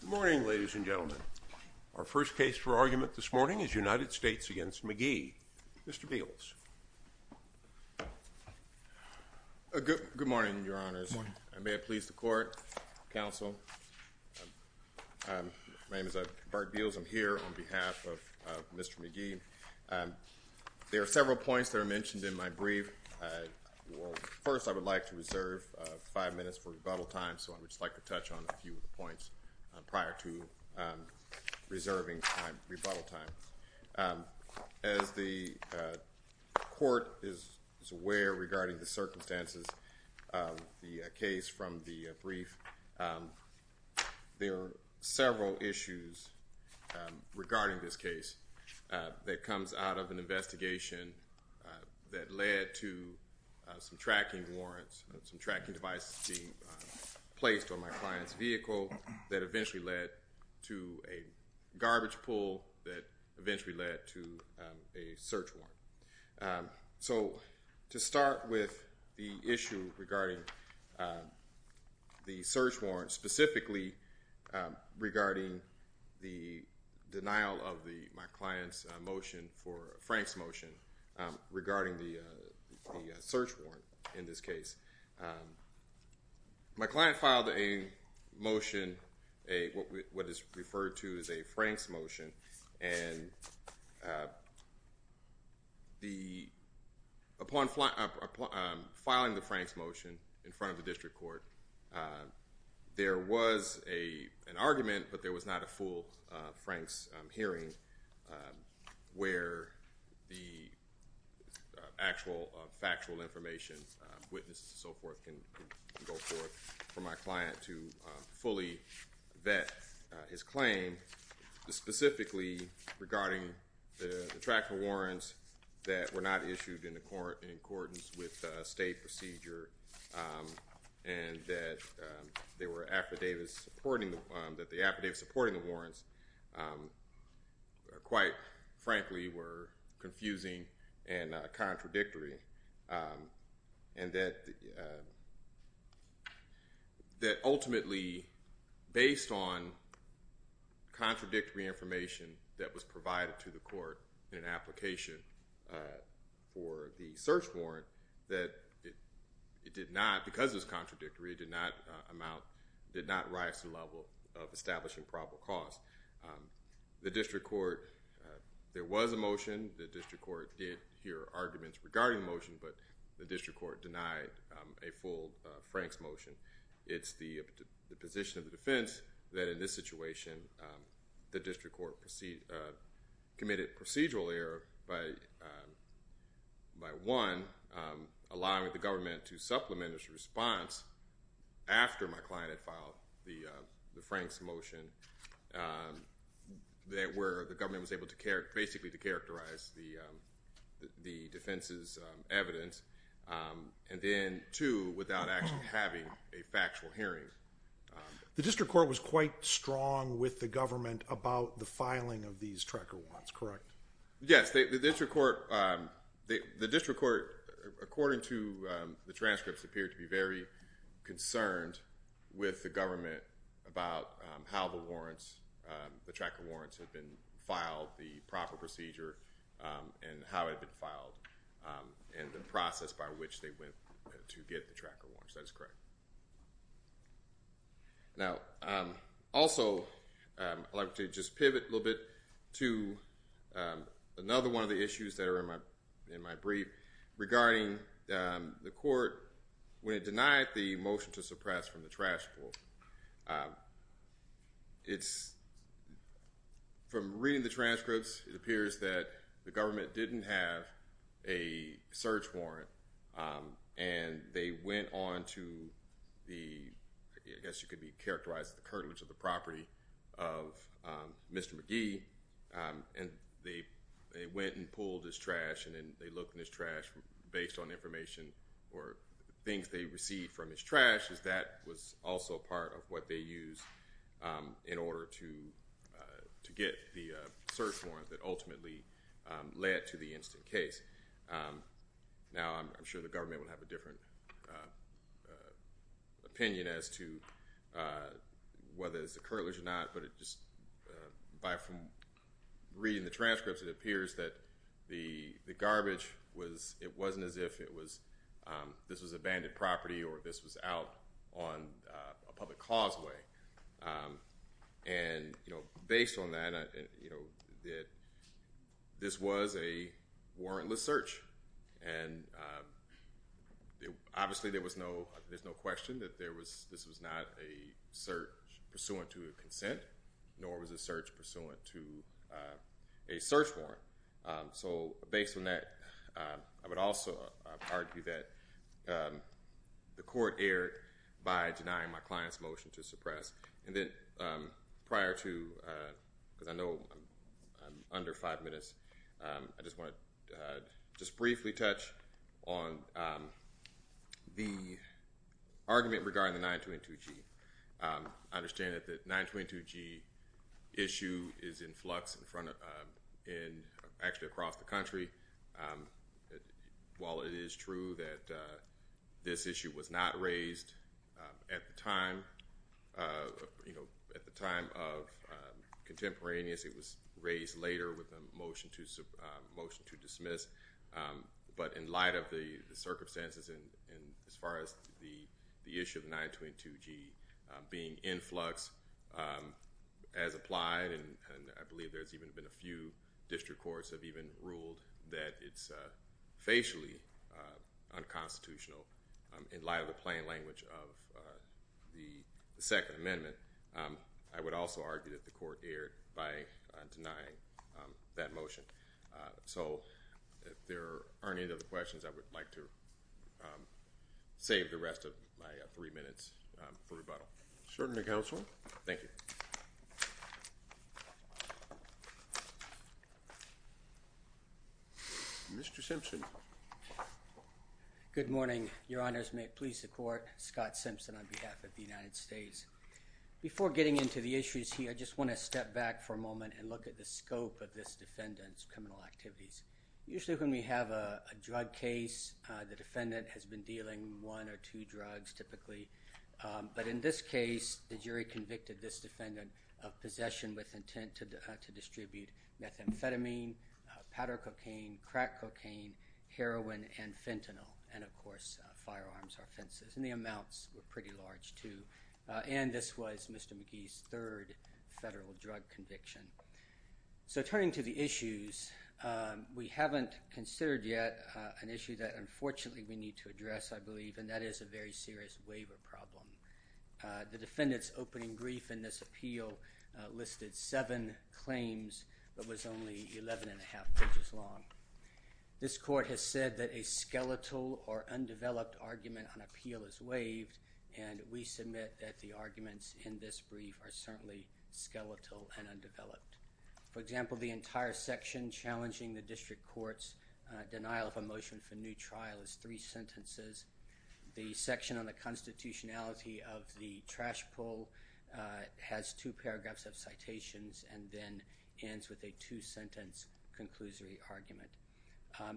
Good morning, ladies and gentlemen. Our first case for argument this morning is United States v. McGhee. Mr. Beals. Good morning, Your Honors. May it please the Court, Counsel. My name is Bart Beals. I'm here on behalf of Mr. McGhee. There are several points that are mentioned in my brief. First, I would like to reserve five minutes for rebuttal time, so I would just like to touch on a few points prior to reserving my rebuttal time. As the Court is aware regarding the circumstances of the case from the brief, there are several issues regarding this case that comes out of an investigation that led to some tracking warrants, some tracking devices being placed on my client's vehicle that eventually led to a garbage pull that eventually led to a search warrant. So, to start with the issue regarding the search warrant, specifically regarding the denial of my client's motion, Frank's motion, regarding the search warrant in this case. My client filed a motion, what is referred to as a Frank's motion. Upon filing the Frank's motion in front of the District Court, there was an argument, but there was not a full Frank's hearing where the actual factual information, witnesses and so forth, can go forth for my client to fully vet his claim. Specifically, regarding the tracking warrants that were not issued in accordance with state procedure and that they were affidavits supporting the warrants, quite frankly, were confusing and contradictory. And that ultimately, based on contradictory information that was provided to the Court in an application for the search warrant, that it did not, because it was contradictory, did not amount, did not rise to the level of establishing probable cause. The District Court, there was a motion. The District Court did hear arguments regarding the motion, but the District Court denied a full Frank's motion. It's the position of the defense that in this situation, the District Court committed procedural error by one, allowing the government to supplement its response after my client had filed the Frank's motion, where the government was able to basically characterize the defense's evidence, and then two, without actually having a factual hearing. The District Court was quite strong with the government about the filing of these tracker warrants, correct? Yes. The District Court, according to the transcripts, appeared to be very concerned with the government about how the warrants, the tracker warrants had been filed, the proper procedure, and how it had been filed, and the process by which they went to get the tracker warrants. That is correct. Now, also, I'd like to just pivot a little bit to another one of the issues that are in my brief regarding the court. When it denied the motion to suppress from the transcripts, it's, from reading the transcripts, it appears that the government didn't have a search warrant, and they went on to the, I guess you could characterize the curtilage of the property of Mr. McGee, and they went and pulled his trash, and then they looked in his trash, based on information or things they received from his trash, that was also part of what they used in order to get the search warrant that ultimately led to the instant case. Now, I'm sure the government will have a different opinion as to whether it's the curtilage or not, but from reading the transcripts, it appears that the garbage was, it wasn't as if it was, this was abandoned property or this was out on a public causeway, and based on that, this was a warrantless search, and obviously there was no, there's no question that this was not a search pursuant to a consent, nor was it a search pursuant to a search warrant, so based on that, I would also argue that the court erred by denying my client's motion to suppress, and then prior to, because I know I'm under five minutes, I just want to just briefly touch on the argument regarding the 922-G. I understand that the 922-G issue is in flux in front of, in, actually across the country. While it is true that this issue was not raised at the time, you know, at the time of contemporaneous, it was raised later with a motion to dismiss, but in light of the circumstances and as far as the issue of 922-G being in flux as applied, and I believe there's even been a few district courts have even ruled that it's facially unconstitutional in light of the plain language of the Second Amendment, I would also argue that the court erred by denying that motion. So, if there aren't any other questions, I would like to save the rest of my three minutes for rebuttal. Sergeant of Counsel. Thank you. Mr. Simpson. Good morning. Your Honors, may it please the Court, Scott Simpson on behalf of the United States. Before getting into the issues here, I just want to step back for a moment and look at the scope of this defendant's criminal activities. Usually when we have a drug case, the defendant has been dealing one or two drugs typically, but in this case, the jury convicted this defendant of possession with intent to distribute methamphetamine, powder cocaine, crack cocaine, heroin, and fentanyl, and of course, firearms or fences, and the was Mr. McGee's third federal drug conviction. So, turning to the issues, we haven't considered yet an issue that unfortunately we need to address, I believe, and that is a very serious waiver problem. The defendant's opening brief in this appeal listed seven claims, but was only 11 1⁄2 pages long. This court has said that a skeletal or undeveloped argument on the arguments in this brief are certainly skeletal and undeveloped. For example, the entire section challenging the district court's denial of a motion for new trial is three sentences. The section on the constitutionality of the trash pull has two paragraphs of citations and then ends with a two-sentence conclusory argument.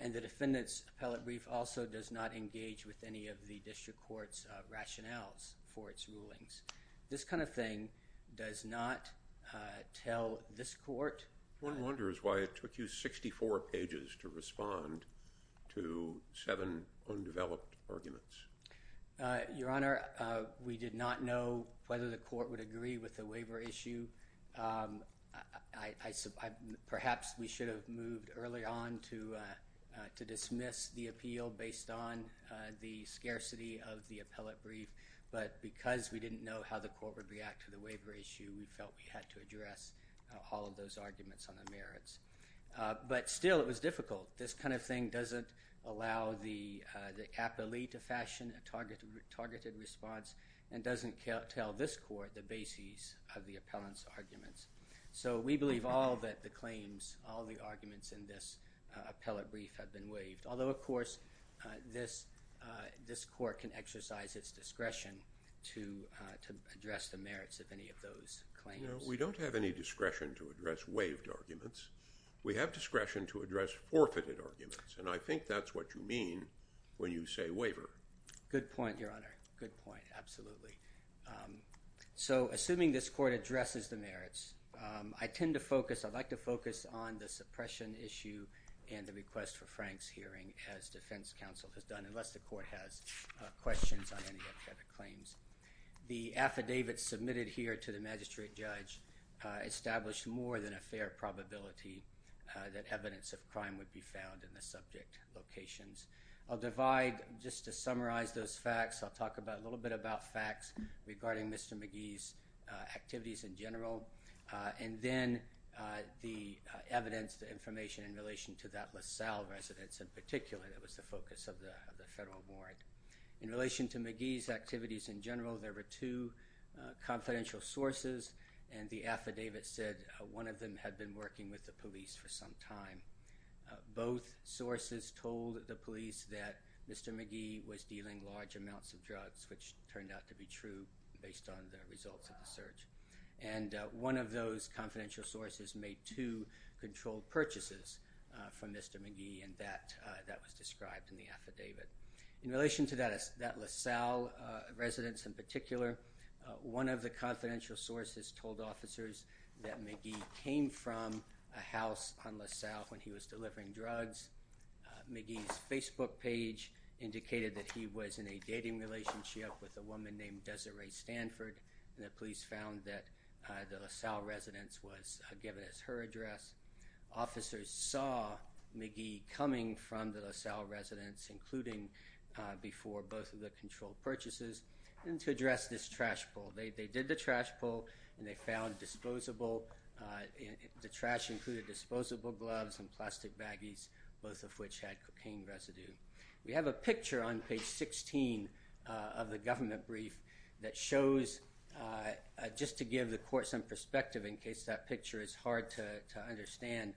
And the defendant's appellate brief also does not engage with any of the district court's rationales for its rulings. This kind of thing does not tell this court. One wonders why it took you 64 pages to respond to seven undeveloped arguments. Your Honor, we did not know whether the court would agree with the appeal based on the scarcity of the appellate brief, but because we didn't know how the court would react to the waiver issue, we felt we had to address all of those arguments on the merits. But still, it was difficult. This kind of thing doesn't allow the appellate to fashion a targeted response and doesn't tell this court the basis of the appellant's arguments. So, we believe all of the claims, all of the arguments in this appellate brief have been waived. Although, of course, this court can exercise its discretion to address the merits of any of those claims. No, we don't have any discretion to address waived arguments. We have discretion to address forfeited arguments. And I think that's what you mean when you say waiver. Good point, Your Honor. Good point. Absolutely. So, assuming this court addresses the merits, I tend to focus, I like to focus on the suppression issue and the request for Frank's hearing as defense counsel has done, unless the court has questions on any of the other claims. The affidavit submitted here to the magistrate judge established more than a fair probability that evidence of crime would be found in the subject locations. I'll divide, just to summarize those facts, I'll talk a little bit about facts regarding Mr. McGee's activities in general, and then the evidence, the information in relation to that LaSalle residence in particular that was the focus of the federal warrant. In relation to McGee's activities in general, there were two confidential sources and the affidavit said one of them had been working with the police for some time. Both sources told the police that Mr. McGee was dealing large amounts of drugs, which turned out to be true based on the results of the search. And one of those confidential sources made two controlled purchases from Mr. McGee and that was described in the affidavit. In relation to that LaSalle residence in particular, one of the confidential sources told officers that McGee came from a house on LaSalle when he was delivering drugs. McGee's Facebook page indicated that he was in a dating relationship with a woman named Desiree Stanford and the police found that the LaSalle residence was given as her address. Officers saw McGee coming from the LaSalle residence, including before both of the controlled purchases, and to address this trash pull. They did the trash pull and they found disposable, the trash included disposable gloves and plastic baggies, both of which had cocaine residue. We have a picture on to give the court some perspective in case that picture is hard to understand.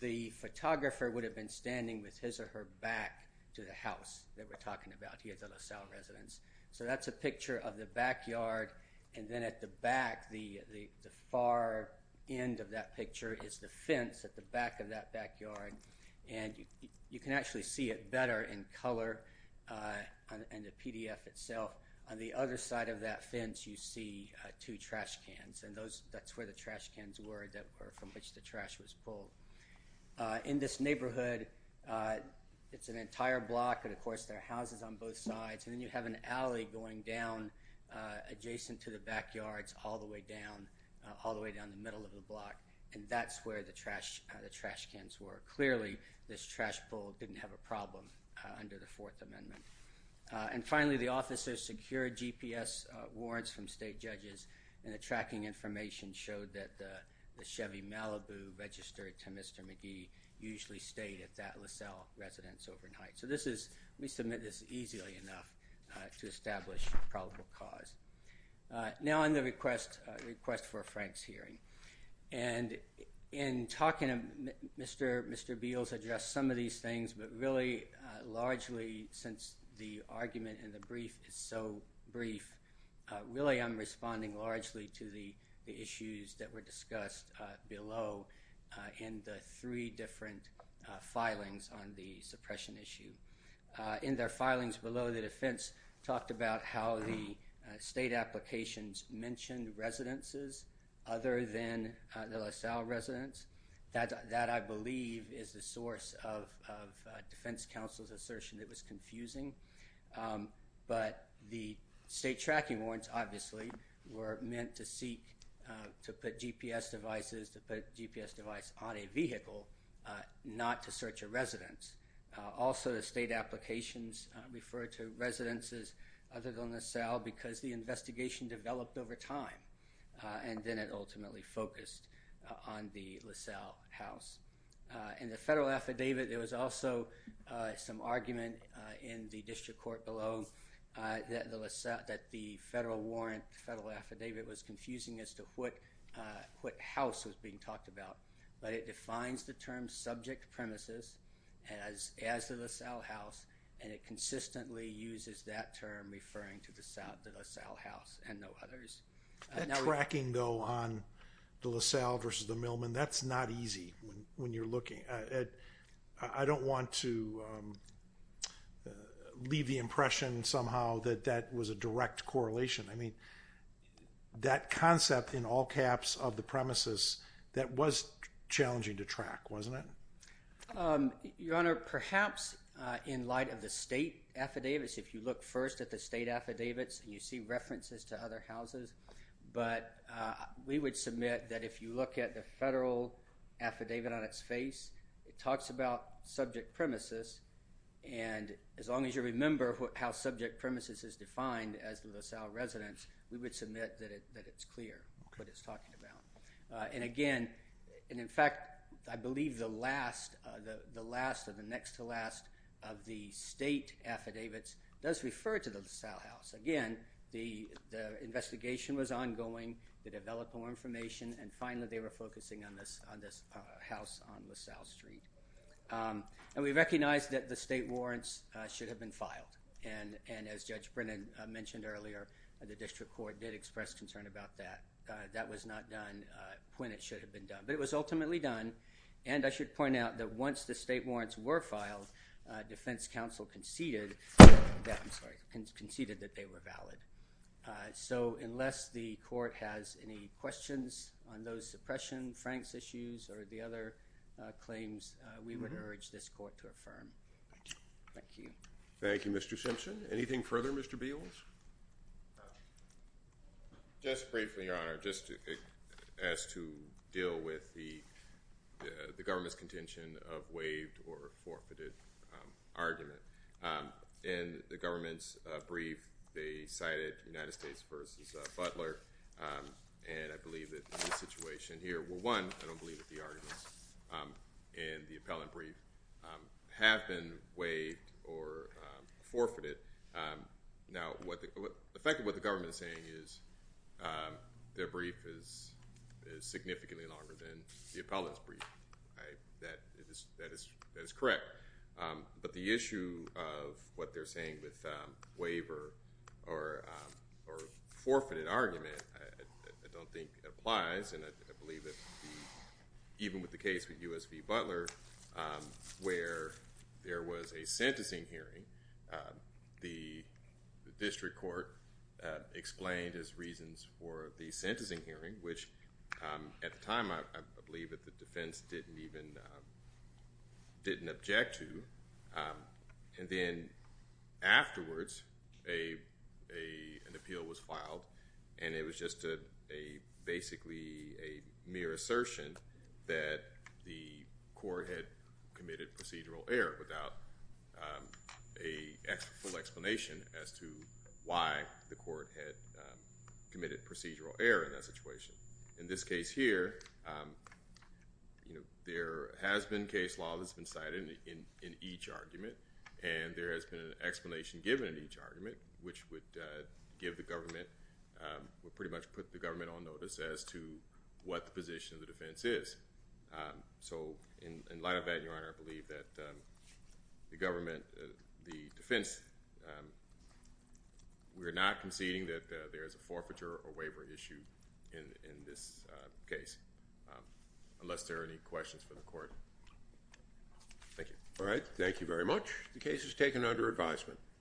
The photographer would have been standing with his or her back to the house that we're talking about here at the LaSalle residence. So that's a picture of the backyard and then at the back, the far end of that picture is the fence at the back of that backyard and you can actually see it better in color in the PDF itself. On the other side of that fence you see two trash cans and that's where the trash cans were from which the trash was pulled. In this neighborhood, it's an entire block and of course there are houses on both sides and then you have an alley going down adjacent to the backyards all the way down, all the way down the middle of the block and that's where the trash cans were. Clearly this trash pull didn't have a problem under the Fourth Amendment. And finally the officers secured GPS warrants from state judges and the tracking information showed that the Chevy Malibu registered to Mr. McGee usually stayed at that LaSalle residence overnight. So this is, we submit this easily enough to establish probable cause. Now on the request for Frank's hearing and in talking, Mr. Beals addressed some of these things but really largely since the argument in the brief is so brief, really I'm responding largely to the issues that were discussed below in the three different filings on the suppression issue. In their filings below the defense talked about how the state applications mentioned residences other than the LaSalle residence. That I believe is the source of defense counsel's assertion that was confusing. But the state tracking warrants obviously were meant to seek to put GPS devices, to put a GPS device on a vehicle not to search a residence. Also the state applications referred to residences other than LaSalle because the investigation developed over time and then ultimately focused on the LaSalle house. In the federal affidavit there was also some argument in the district court below that the federal warrant, the federal affidavit was confusing as to what house was being talked about. But it defines the term subject premises as the LaSalle house and it consistently uses that term referring to the LaSalle house and no others. That tracking though on the LaSalle versus the Millman, that's not easy when you're looking. I don't want to leave the impression somehow that that was a direct correlation. I mean that concept in all caps of the premises that was challenging to track, wasn't it? Your Honor, perhaps in light of the state affidavits, if you look first at the state affidavits and you see references to other houses, but we would submit that if you look at the federal affidavit on its face, it talks about subject premises and as long as you remember how subject premises is defined as the LaSalle residence, we would submit that it's clear what it's talking about. And again, in fact, I believe the last of the next to the LaSalle house. Again, the investigation was ongoing to develop more information and finally they were focusing on this house on LaSalle Street. And we recognized that the state warrants should have been filed and as Judge Brennan mentioned earlier, the district court did express concern about that. That was not done when it should have been done. But it was ultimately done and I should point out that once the state warrants were filed, defense counsel conceded that they were valid. So unless the court has any questions on those suppression, Frank's issues or the other claims, we would urge this court to affirm. Thank you. Thank you, Mr. Simpson. Anything further, Mr. Beals? Just briefly, Your Honor, just as to deal with the government's contention of waived or forfeited argument. In the government's brief, they cited United States versus Butler and I believe that the situation here, well, one, I don't believe that the arguments in the appellant brief have been waived or forfeited. Now, effectively what the government is saying is their brief is significantly longer than the appellant's brief. That is correct. But the issue of what they're saying with waiver or forfeited argument, I don't think applies and I believe that even with the case with U.S. v. Butler, where there was a sentencing hearing, the district court explained its reasons for the sentencing hearing, which at the time, I believe that the defense didn't even, didn't object to. And then afterwards, an appeal was filed and it was just basically a mere assertion that the court had committed procedural error without a full explanation as to why the court had committed procedural error in that situation. In this case here, there has been case law that's been cited in each argument and there has been an explanation given in each argument, which would give the government, would pretty much put the government on notice as to what the position of the defense is. So in light of that, Your Honor, I believe that the government, the defense, we're not conceding that there's a forfeiture or waiver issue in this case, unless there are any questions for the court. Thank you. All right. Thank you very much. The case is taken under advisement.